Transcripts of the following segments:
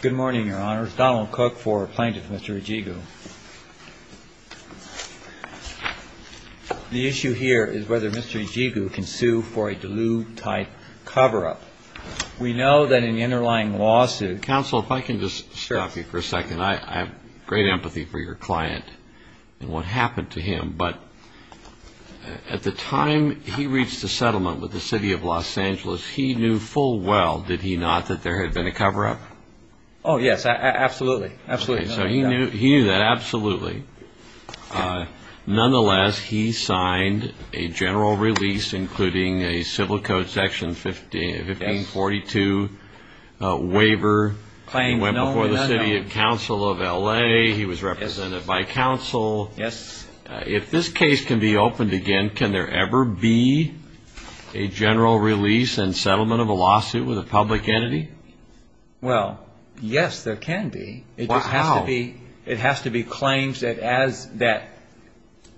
Good morning, Your Honor. It's Donald Cook for Plaintiff Mr. Ejigu. The issue here is whether Mr. Ejigu can sue for a Duluth-type cover-up. We know that in the underlying lawsuit Counsel, if I can just stir up you for a second. I have great empathy for your client and what happened to him, but at the time he reached a settlement with the City of Los Angeles, he knew full well, did he not, that there had been a cover-up? Oh, yes, absolutely. So he knew that, absolutely. Nonetheless, he signed a general release including a Civil Code Section 1542 waiver. He went before the City Council of LA. He was represented by counsel. Counsel, if this case can be opened again, can there ever be a general release and settlement of a lawsuit with a public entity? Well, yes, there can be. How? It has to be claims that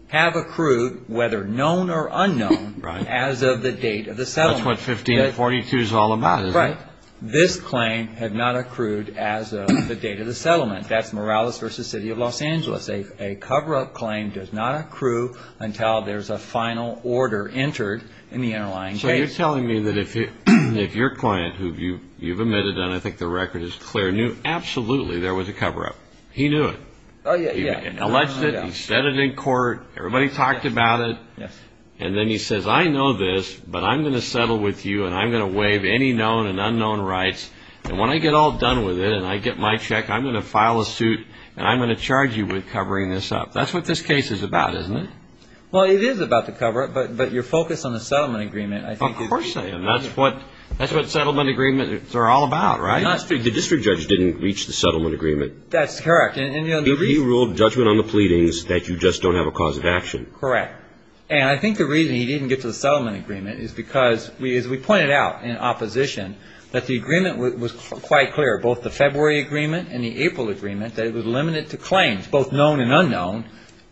have accrued, whether known or unknown, as of the date of the settlement. That's what 1542 is all about, isn't it? Right. This claim had not accrued as of the date of the settlement. That's Morales v. City of Los Angeles. A cover-up claim does not accrue until there's a final order entered in the underlying case. So you're telling me that if your client, who you've admitted and I think the record is clear, knew absolutely there was a cover-up, he knew it? Oh, yes. He alleged it, he said it in court, everybody talked about it, and then he says, I know this, but I'm going to settle with you and I'm going to waive any known and unknown rights, and when I get all done with it and I get my check, I'm going to file a suit and I'm going to charge you with covering this up. That's what this case is about, isn't it? Well, it is about the cover-up, but you're focused on the settlement agreement. Of course I am. That's what settlement agreements are all about, right? The district judge didn't reach the settlement agreement. That's correct. He ruled judgment on the pleadings that you just don't have a cause of action. Correct. And I think the reason he didn't get to the settlement agreement is because, as we pointed out in opposition, that the agreement was quite clear, both the February agreement and the April agreement, that it was limited to claims, both known and unknown,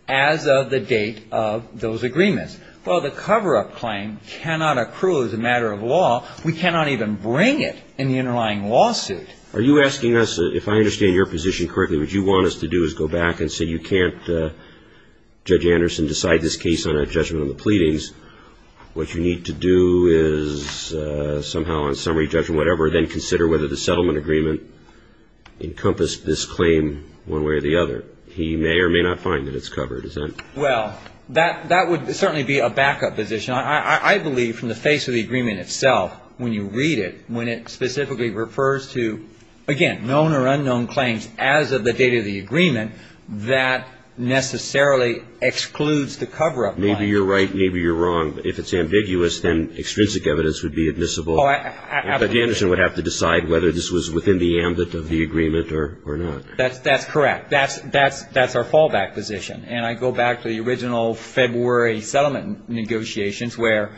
as of the date of those agreements. Well, the cover-up claim cannot accrue as a matter of law. We cannot even bring it in the underlying lawsuit. Are you asking us, if I understand your position correctly, what you want us to do is go back and say you can't, Judge Anderson, decide this case on a judgment of the pleadings. What you need to do is somehow on summary judgment, whatever, then consider whether the settlement agreement encompassed this claim one way or the other. He may or may not find that it's covered. Well, that would certainly be a backup position. I believe from the face of the agreement itself, when you read it, when it specifically refers to, again, known or unknown claims as of the date of the agreement, that necessarily excludes the cover-up claim. Maybe you're right. Maybe you're wrong. If it's ambiguous, then extrinsic evidence would be admissible. Oh, absolutely. Judge Anderson would have to decide whether this was within the ambit of the agreement or not. That's correct. That's our fallback position. And I go back to the original February settlement negotiations where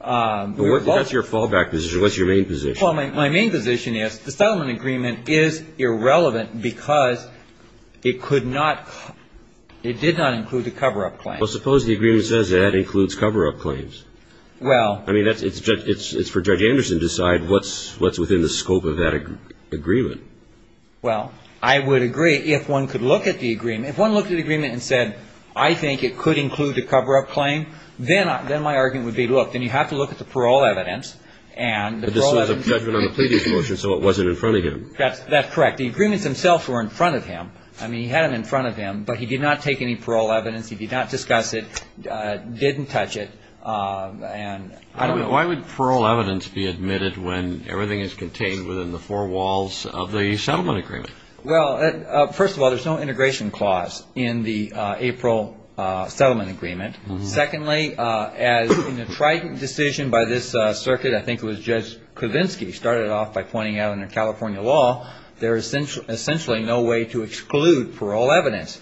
we were both ---- What's your fallback position? What's your main position? Well, my main position is the settlement agreement is irrelevant because it could not ---- it did not include the cover-up claim. Well, suppose the agreement says that includes cover-up claims. Well ---- I mean, it's for Judge Anderson to decide what's within the scope of that agreement. Well, I would agree if one could look at the agreement. If one looked at the agreement and said, I think it could include the cover-up claim, then my argument would be, look, then you have to look at the parole evidence and the parole evidence ---- But this was a judgment on the previous motion, so it wasn't in front of him. That's correct. The agreements themselves were in front of him. I mean, he had them in front of him, but he did not take any parole evidence. He did not discuss it, didn't touch it, and ---- Why would parole evidence be admitted when everything is contained within the four walls of the settlement agreement? Well, first of all, there's no integration clause in the April settlement agreement. Secondly, as in the Trident decision by this circuit, I think it was Judge Kavinsky started off by pointing out under California law, there is essentially no way to exclude parole evidence.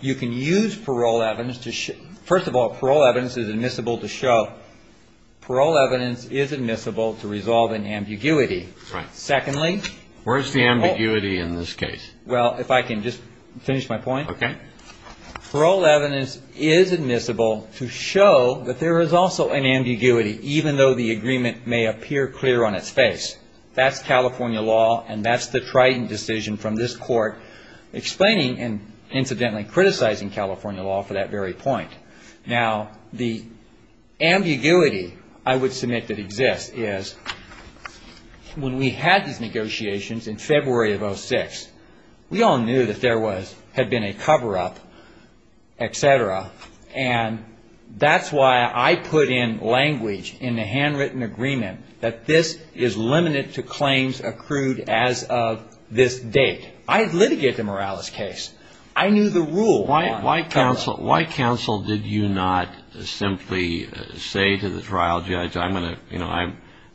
You can use parole evidence to ---- First of all, parole evidence is admissible to show. Parole evidence is admissible to resolve an ambiguity. Secondly ---- Where's the ambiguity in this case? Well, if I can just finish my point. Okay. Parole evidence is admissible to show that there is also an ambiguity, even though the agreement may appear clear on its face. That's California law, and that's the Trident decision from this court explaining and incidentally criticizing California law for that very point. Now, the ambiguity I would submit that exists is when we had these negotiations in February of 06, we all knew that there had been a cover-up, et cetera, and that's why I put in language in the handwritten agreement that this is limited to claims accrued as of this date. I had litigated the Morales case. I knew the rule. Why counsel did you not simply say to the trial judge, I'm going to, you know,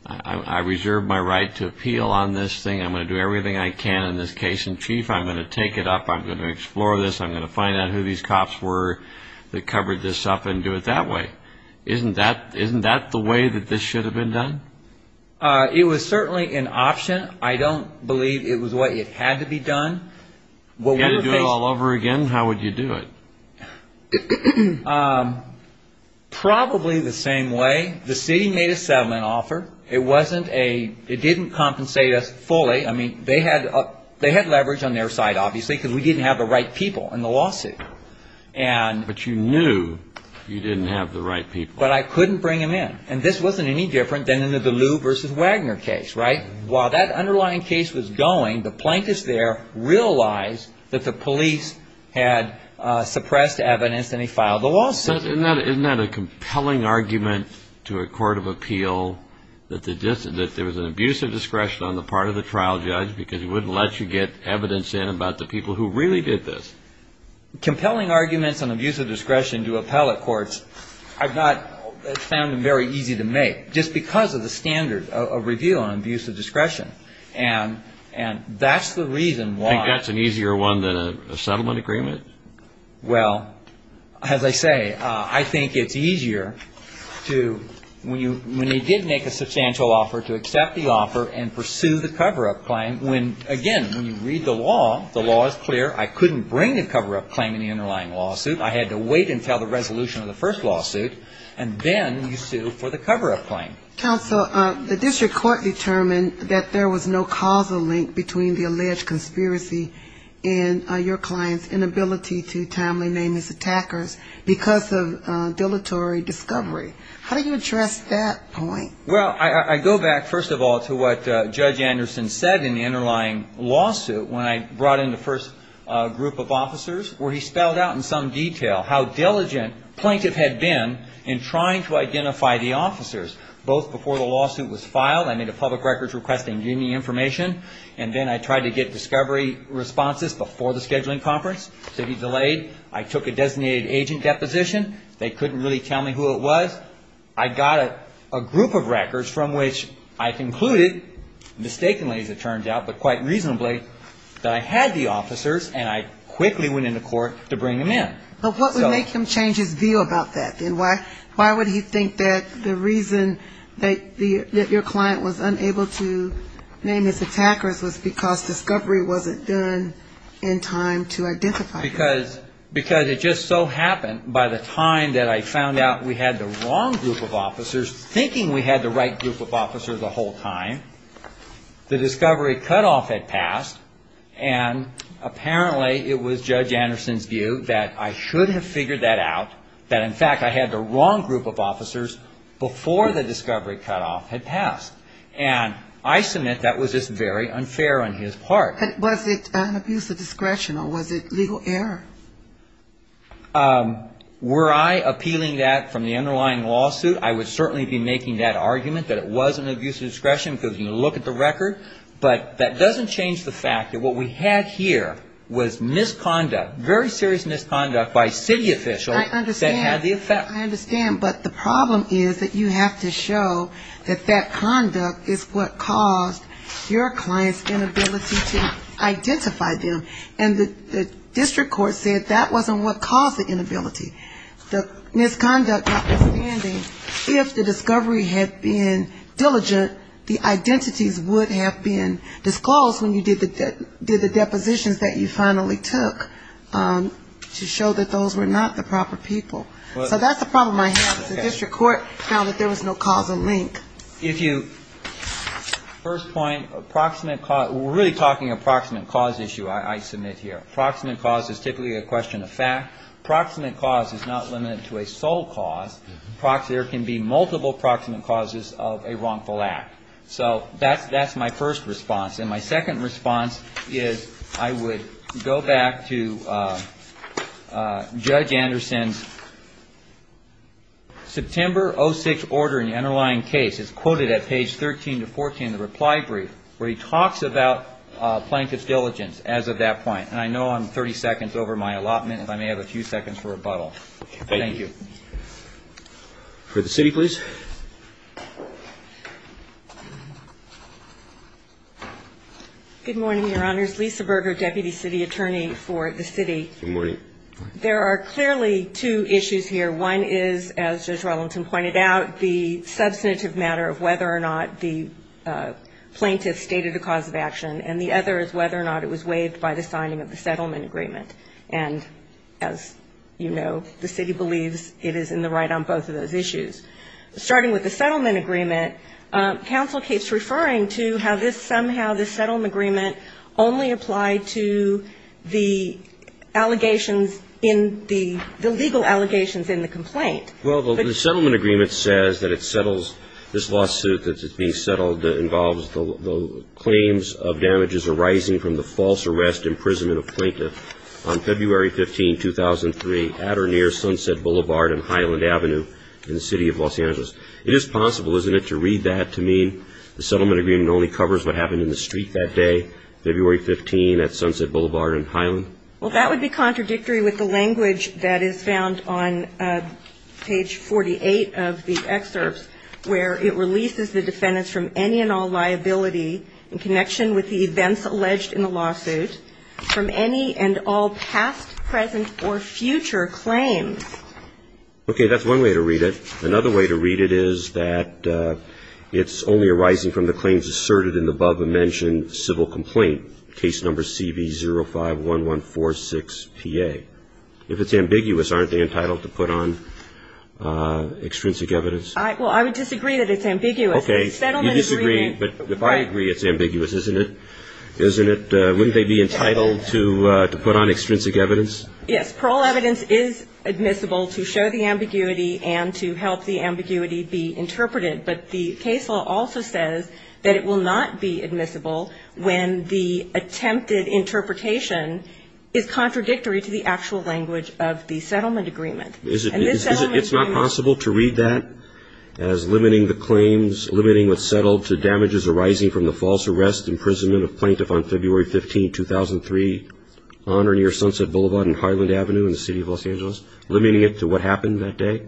I reserve my right to appeal on this thing. I'm going to do everything I can in this case in chief. I'm going to take it up. I'm going to explore this. I'm going to find out who these cops were that covered this up and do it that way. Isn't that the way that this should have been done? It was certainly an option. I don't believe it was what had to be done. If you had to do it all over again, how would you do it? Probably the same way. It didn't compensate us fully. I mean, they had leverage on their side, obviously, because we didn't have the right people in the lawsuit. But you knew you didn't have the right people. But I couldn't bring them in. And this wasn't any different than in the Deleu versus Wagner case, right? While that underlying case was going, the plaintiffs there realized that the police had suppressed evidence, and they filed the lawsuit. Isn't that a compelling argument to a court of appeal that there was an abuse of discretion on the part of the trial judge because he wouldn't let you get evidence in about the people who really did this? Compelling arguments on abuse of discretion to appellate courts, I've not found them very easy to make, just because of the standard of review on abuse of discretion. And that's the reason why. You think that's an easier one than a settlement agreement? Well, as I say, I think it's easier to, when you did make a substantial offer, to accept the offer and pursue the cover-up claim, when, again, when you read the law, the law is clear. I couldn't bring the cover-up claim in the underlying lawsuit. I had to wait until the resolution of the first lawsuit, and then you sue for the cover-up claim. Counsel, the district court determined that there was no causal link between the alleged conspiracy and your client's inability to timely name his attackers because of dilatory discovery. How do you address that point? Well, I go back, first of all, to what Judge Anderson said in the underlying lawsuit when I brought in the first group of officers, where he spelled out in some detail how diligent plaintiff had been in trying to identify the officers, both before the lawsuit was filed, I made a public records request and gave me information, and then I tried to get discovery responses before the scheduling conference, so he delayed. I took a designated agent deposition. They couldn't really tell me who it was. I got a group of records from which I concluded, mistakenly, as it turns out, but quite reasonably, that I had the officers, and I quickly went into court to bring them in. But what would make him change his view about that, then? Why would he think that the reason that your client was unable to name his attackers was because discovery wasn't done in time to identify them? Because it just so happened, by the time that I found out we had the wrong group of officers, thinking we had the right group of officers the whole time, the discovery cutoff had passed, and apparently it was Judge Anderson's view that I should have figured that out, that in fact I had the wrong group of officers before the discovery cutoff had passed. And I submit that was just very unfair on his part. But was it an abuse of discretion, or was it legal error? Were I appealing that from the underlying lawsuit, I would certainly be making that argument that it was an abuse of discretion, because you look at the record. But that doesn't change the fact that what we had here was misconduct, very serious misconduct by city officials that had the effect. I understand. But the problem is that you have to show that that conduct is what caused your client's inability to identify them. And the district court said that wasn't what caused the inability. The misconduct notwithstanding, if the discovery had been diligent, the identities would have been disclosed when you did the depositions that you finally took, to show that those were not the proper people. So that's the problem I have. The district court found that there was no cause and link. First point, approximate cause. We're really talking approximate cause issue I submit here. Approximate cause is typically a question of fact. Approximate cause is not limited to a sole cause. There can be multiple approximate causes of a wrongful act. So that's my first response. And my second response is I would go back to Judge Anderson's September 06 order in the underlying case. It's quoted at page 13 to 14 of the reply brief where he talks about Plankett's diligence as of that point. And I know I'm 30 seconds over my allotment. If I may have a few seconds for rebuttal. Thank you. For the city, please. Good morning, Your Honors. Lisa Berger, deputy city attorney for the city. Good morning. There are clearly two issues here. One is, as Judge Rollenton pointed out, the substantive matter of whether or not the plaintiff stated a cause of action, and the other is whether or not it was waived by the signing of the settlement agreement. And as you know, the city believes it is in the right on both of those issues. Starting with the settlement agreement, counsel keeps referring to how this somehow, the settlement agreement only applied to the allegations in the legal allegations in the complaint. Well, the settlement agreement says that it settles this lawsuit that's being settled that involves the claims of damages arising from the false arrest, imprisonment of Plankett on February 15, 2003, at or near Sunset Boulevard and Highland Avenue in the city of Los Angeles. It is possible, isn't it, to read that to mean the settlement agreement only covers what happened in the street that day, February 15, at Sunset Boulevard and Highland? Well, that would be contradictory with the language that is found on page 48 of the excerpts, where it releases the defendants from any and all liability in connection with the events alleged in the lawsuit, from any and all past, present, or future claims. Okay. That's one way to read it. Another way to read it is that it's only arising from the claims asserted in the above-mentioned civil complaint, case number CV051146PA. If it's ambiguous, aren't they entitled to put on extrinsic evidence? Well, I would disagree that it's ambiguous. Okay. You disagree, but if I agree it's ambiguous, isn't it? Wouldn't they be entitled to put on extrinsic evidence? Yes. Parole evidence is admissible to show the ambiguity and to help the ambiguity be interpreted, but the case law also says that it will not be admissible when the attempted interpretation is contradictory to the actual language of the settlement agreement. It's not possible to read that as limiting the claims, limiting what's settled to damages arising from the false arrest, imprisonment of plaintiff on February 15, 2003, on or near Sunset Boulevard and Highland Avenue in the City of Los Angeles, limiting it to what happened that day?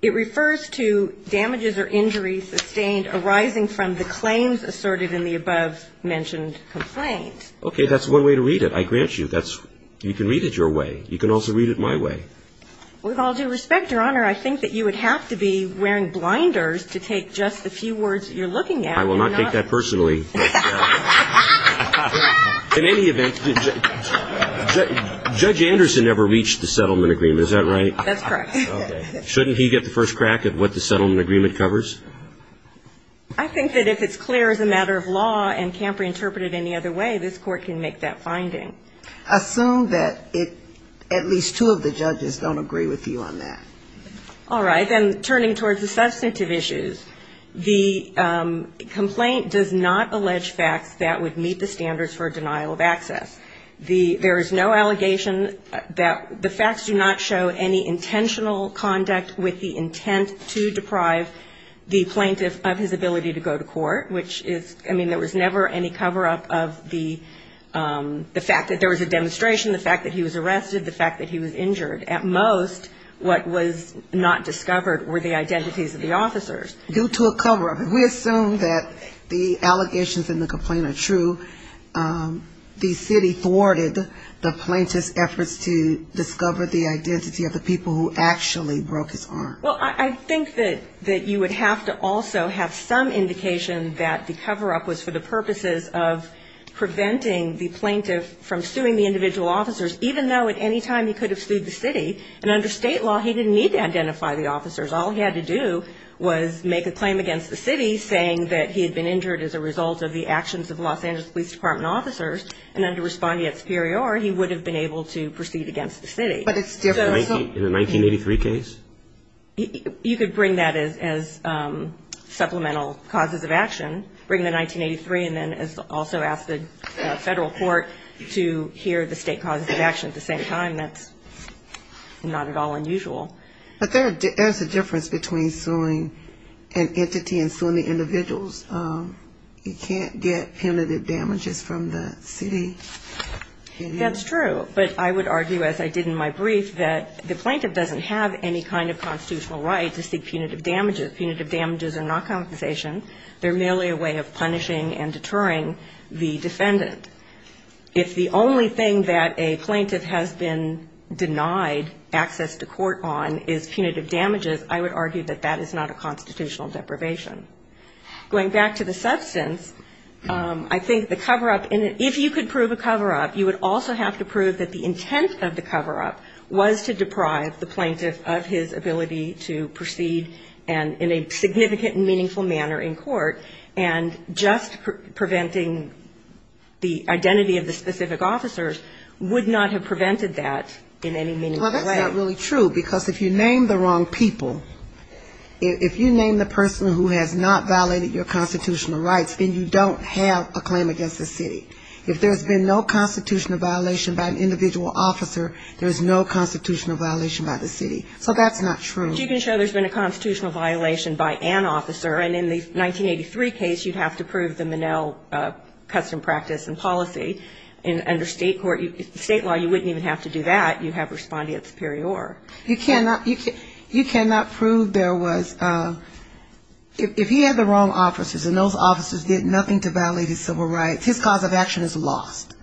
It refers to damages or injuries sustained arising from the claims asserted in the above-mentioned complaint. Okay. That's one way to read it. I grant you. You can read it your way. You can also read it my way. With all due respect, Your Honor, I think that you would have to be wearing blinders to take just the few words you're looking at. I will not take that personally. In any event, Judge Anderson never reached the settlement agreement. Is that right? That's correct. Okay. Shouldn't he get the first crack at what the settlement agreement covers? I think that if it's clear as a matter of law and can't be interpreted any other way, this Court can make that finding. Assume that at least two of the judges don't agree with you on that. All right. Then turning towards the substantive issues, the complaint does not allege facts that would meet the standards for denial of access. There is no allegation that the facts do not show any intentional conduct with the intent to deprive the plaintiff of his ability to go to court, which is, I mean, there was never any cover-up of the fact that there was a demonstration, the fact that he was arrested, the fact that he was injured. At most, what was not discovered were the identities of the officers. Due to a cover-up. We assume that the allegations in the complaint are true. The city thwarted the plaintiff's efforts to discover the identity of the people who actually broke his arm. Well, I think that you would have to also have some indication that the cover-up was for the purposes of preventing the plaintiff from suing the individual officers, even though at any time he could have sued the city. And under State law, he didn't need to identify the officers. All he had to do was make a claim against the city, saying that he had been injured as a result of the actions of the Los Angeles Police Department officers, and under respondeat superior, he would have been able to proceed against the city. But it's different. In the 1983 case? You could bring that as supplemental causes of action. Bring the 1983 and then also ask the federal court to hear the State causes of action at the same time. That's not at all unusual. But there's a difference between suing an entity and suing the individuals. You can't get punitive damages from the city. That's true. But I would argue, as I did in my brief, that the plaintiff doesn't have any kind of constitutional right to seek punitive damages. Punitive damages are not compensation. They're merely a way of punishing and deterring the defendant. If the only thing that a plaintiff has been denied access to court on is punitive damages, I would argue that that is not a constitutional deprivation. Going back to the substance, I think the cover-up, if you could prove a cover-up, you would also have to prove that the intent of the cover-up was to deprive the plaintiff of his ability to proceed in a significant and meaningful manner in court. And just preventing the identity of the specific officers would not have prevented that in any meaningful way. Well, that's not really true. Because if you name the wrong people, if you name the person who has not violated your constitutional rights, then you don't have a claim against the city. If there's been no constitutional violation by an individual officer, there's no constitutional violation by the city. So that's not true. But you can show there's been a constitutional violation by an officer. And in the 1983 case, you'd have to prove the Minnell custom practice and policy. And under state court, state law, you wouldn't even have to do that. You'd have respondeat superior. You cannot prove there was, if he had the wrong officers and those officers did nothing to violate his civil rights, his cause of action is lost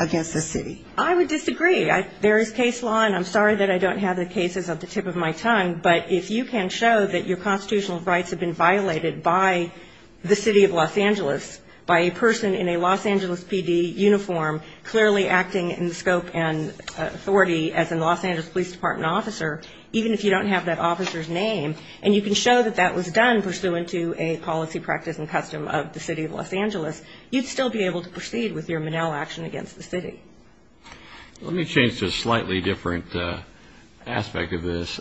against the city. I would disagree. There is case law, and I'm sorry that I don't have the cases at the tip of my tongue. But if you can show that your constitutional rights have been violated by the city of Los Angeles, by a person in a Los Angeles PD uniform clearly acting in the scope and authority as a Los Angeles police department officer, even if you don't have that officer's name, and you can show that that was done pursuant to a policy practice and custom of the city of Los Angeles, you'd still be able to prove that the city of Los Angeles did not violate the civil rights of the city of Los Angeles. I'm going to change to a slightly different aspect of this.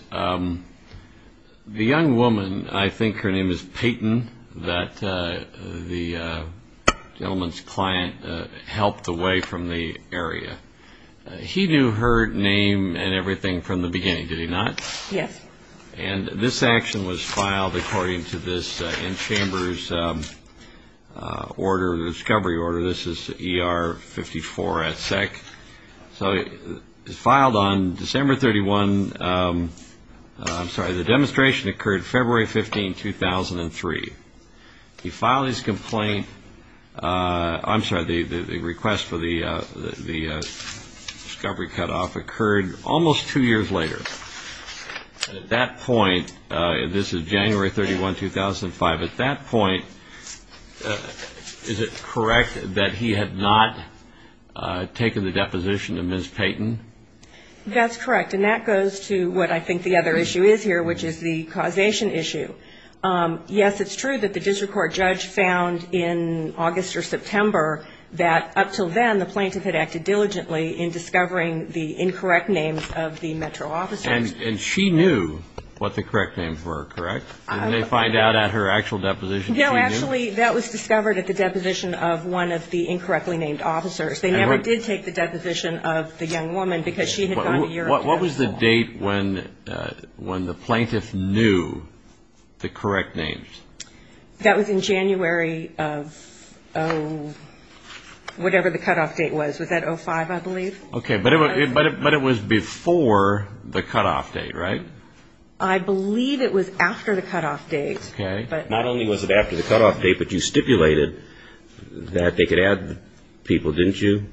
The young woman, I think her name is Peyton, that the gentleman's client helped away from the area. He knew her name and everything from the beginning, did he not? Yes. And this action was filed according to this in-chambers order, the discovery order. This is ER 54 at SEC. So it was filed on December 31. I'm sorry, the demonstration occurred February 15, 2003. He filed his complaint, I'm sorry, the request for the discovery cutoff occurred almost two years later. At that point, this is January 31, 2005, at that point, is it correct that he had not taken the deposition of Ms. Peyton? That's correct. And that goes to what I think the other issue is here, which is the causation issue. Yes, it's true that the district court judge found in August or September that up until then, the plaintiff had acted diligently in discovering the incorrect names of the metro officers. And she knew what the correct names were, correct? Didn't they find out at her actual deposition that she knew? Actually, that was discovered at the deposition of one of the incorrectly named officers. They never did take the deposition of the young woman because she had gone a year into her home. What was the date when the plaintiff knew the correct names? That was in January of, oh, whatever the cutoff date was. Was that 2005, I believe? Okay. But it was before the cutoff date, right? I believe it was after the cutoff date. Okay. Not only was it after the cutoff date, but you stipulated that they could add people, didn't you,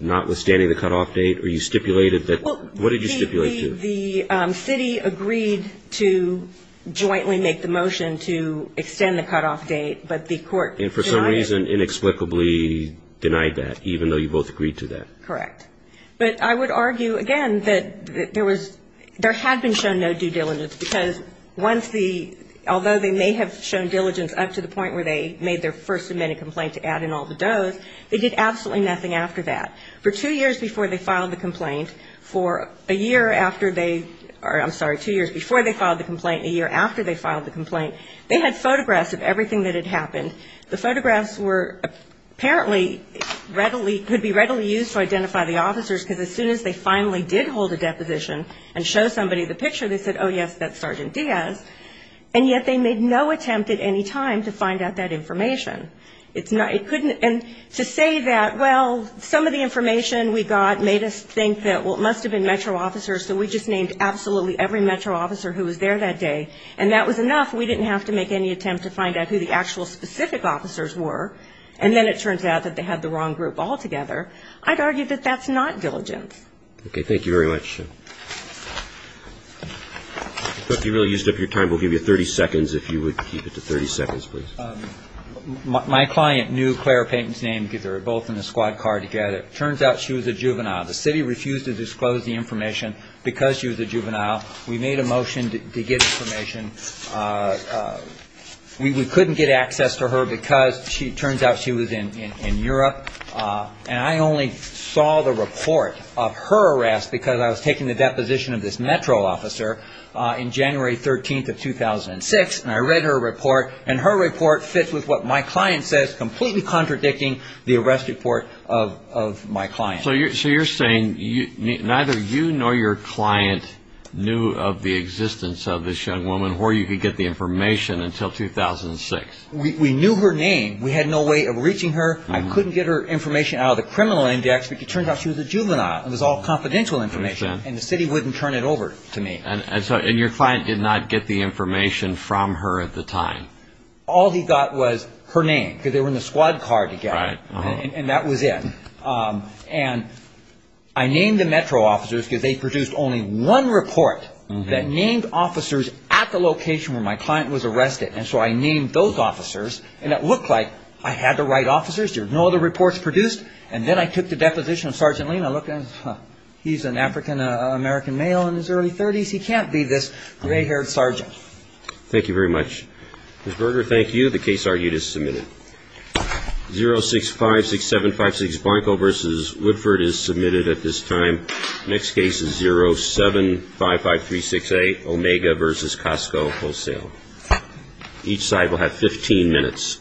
notwithstanding the cutoff date? Or you stipulated that, what did you stipulate to? The city agreed to jointly make the motion to extend the cutoff date, but the court denied it. And for some reason, inexplicably denied that, even though you both agreed to that. Correct. But I would argue, again, that there was, there had been shown no due diligence because once the, although they may have shown the complaint for a year after they, or I'm sorry, two years before they filed the complaint and a year after they filed the complaint, they had photographs of everything that had happened. The photographs were apparently readily, could be readily used to identify the officers, because as soon as they finally did hold a deposition and show somebody the picture, they said, oh, yes, that's Sergeant Diaz. And yet they made no attempt at any time to find out that information. It's not, it couldn't, and to say that, well, some of the information we got made us think that, well, it must have been Metro officers, so we just named absolutely every Metro officer who was there that day, and that was enough. We didn't have to make any attempt to find out who the actual specific officers were. And then it turns out that they had the wrong group altogether. I'd argue that that's not diligence. Okay, thank you very much. I thought you really used up your time. We'll give you 30 seconds if you would keep it to 30 seconds, please. My client knew Clara Payton's name because they were both in the squad car together. It turns out she was a juvenile. The city refused to disclose the information because she was a juvenile. We made a motion to get information. We couldn't get access to her because it turns out she was in Europe. And I only saw the report of her arrest because I was taking the deposition of this Metro officer in January 13th of 2006. And I read her report, and her report fits with what my client says, completely contradicting the arrest report of my client. So you're saying neither you nor your client knew of the existence of this young woman, Horton, before you could get the information until 2006? We knew her name. We had no way of reaching her. I couldn't get her information out of the criminal index because it turns out she was a juvenile. It was all confidential information, and the city wouldn't turn it over to me. And your client did not get the information from her at the time? All he got was her name because they were in the squad car together, and that was it. And I named the Metro officers because they produced only one report that named officers at the location where my client was arrested. And so I named those officers, and it looked like I had the right officers. There were no other reports produced, and then I took the deposition of Sergeant Lean. He's an African-American male in his early 30s. He can't be this gray-haired sergeant. Thank you very much. Ms. Berger, thank you. The case argued is submitted. Omega v. Woodford is submitted at this time. Next case is 07-55368, Omega v. Costco Wholesale. Each side will have 15 minutes.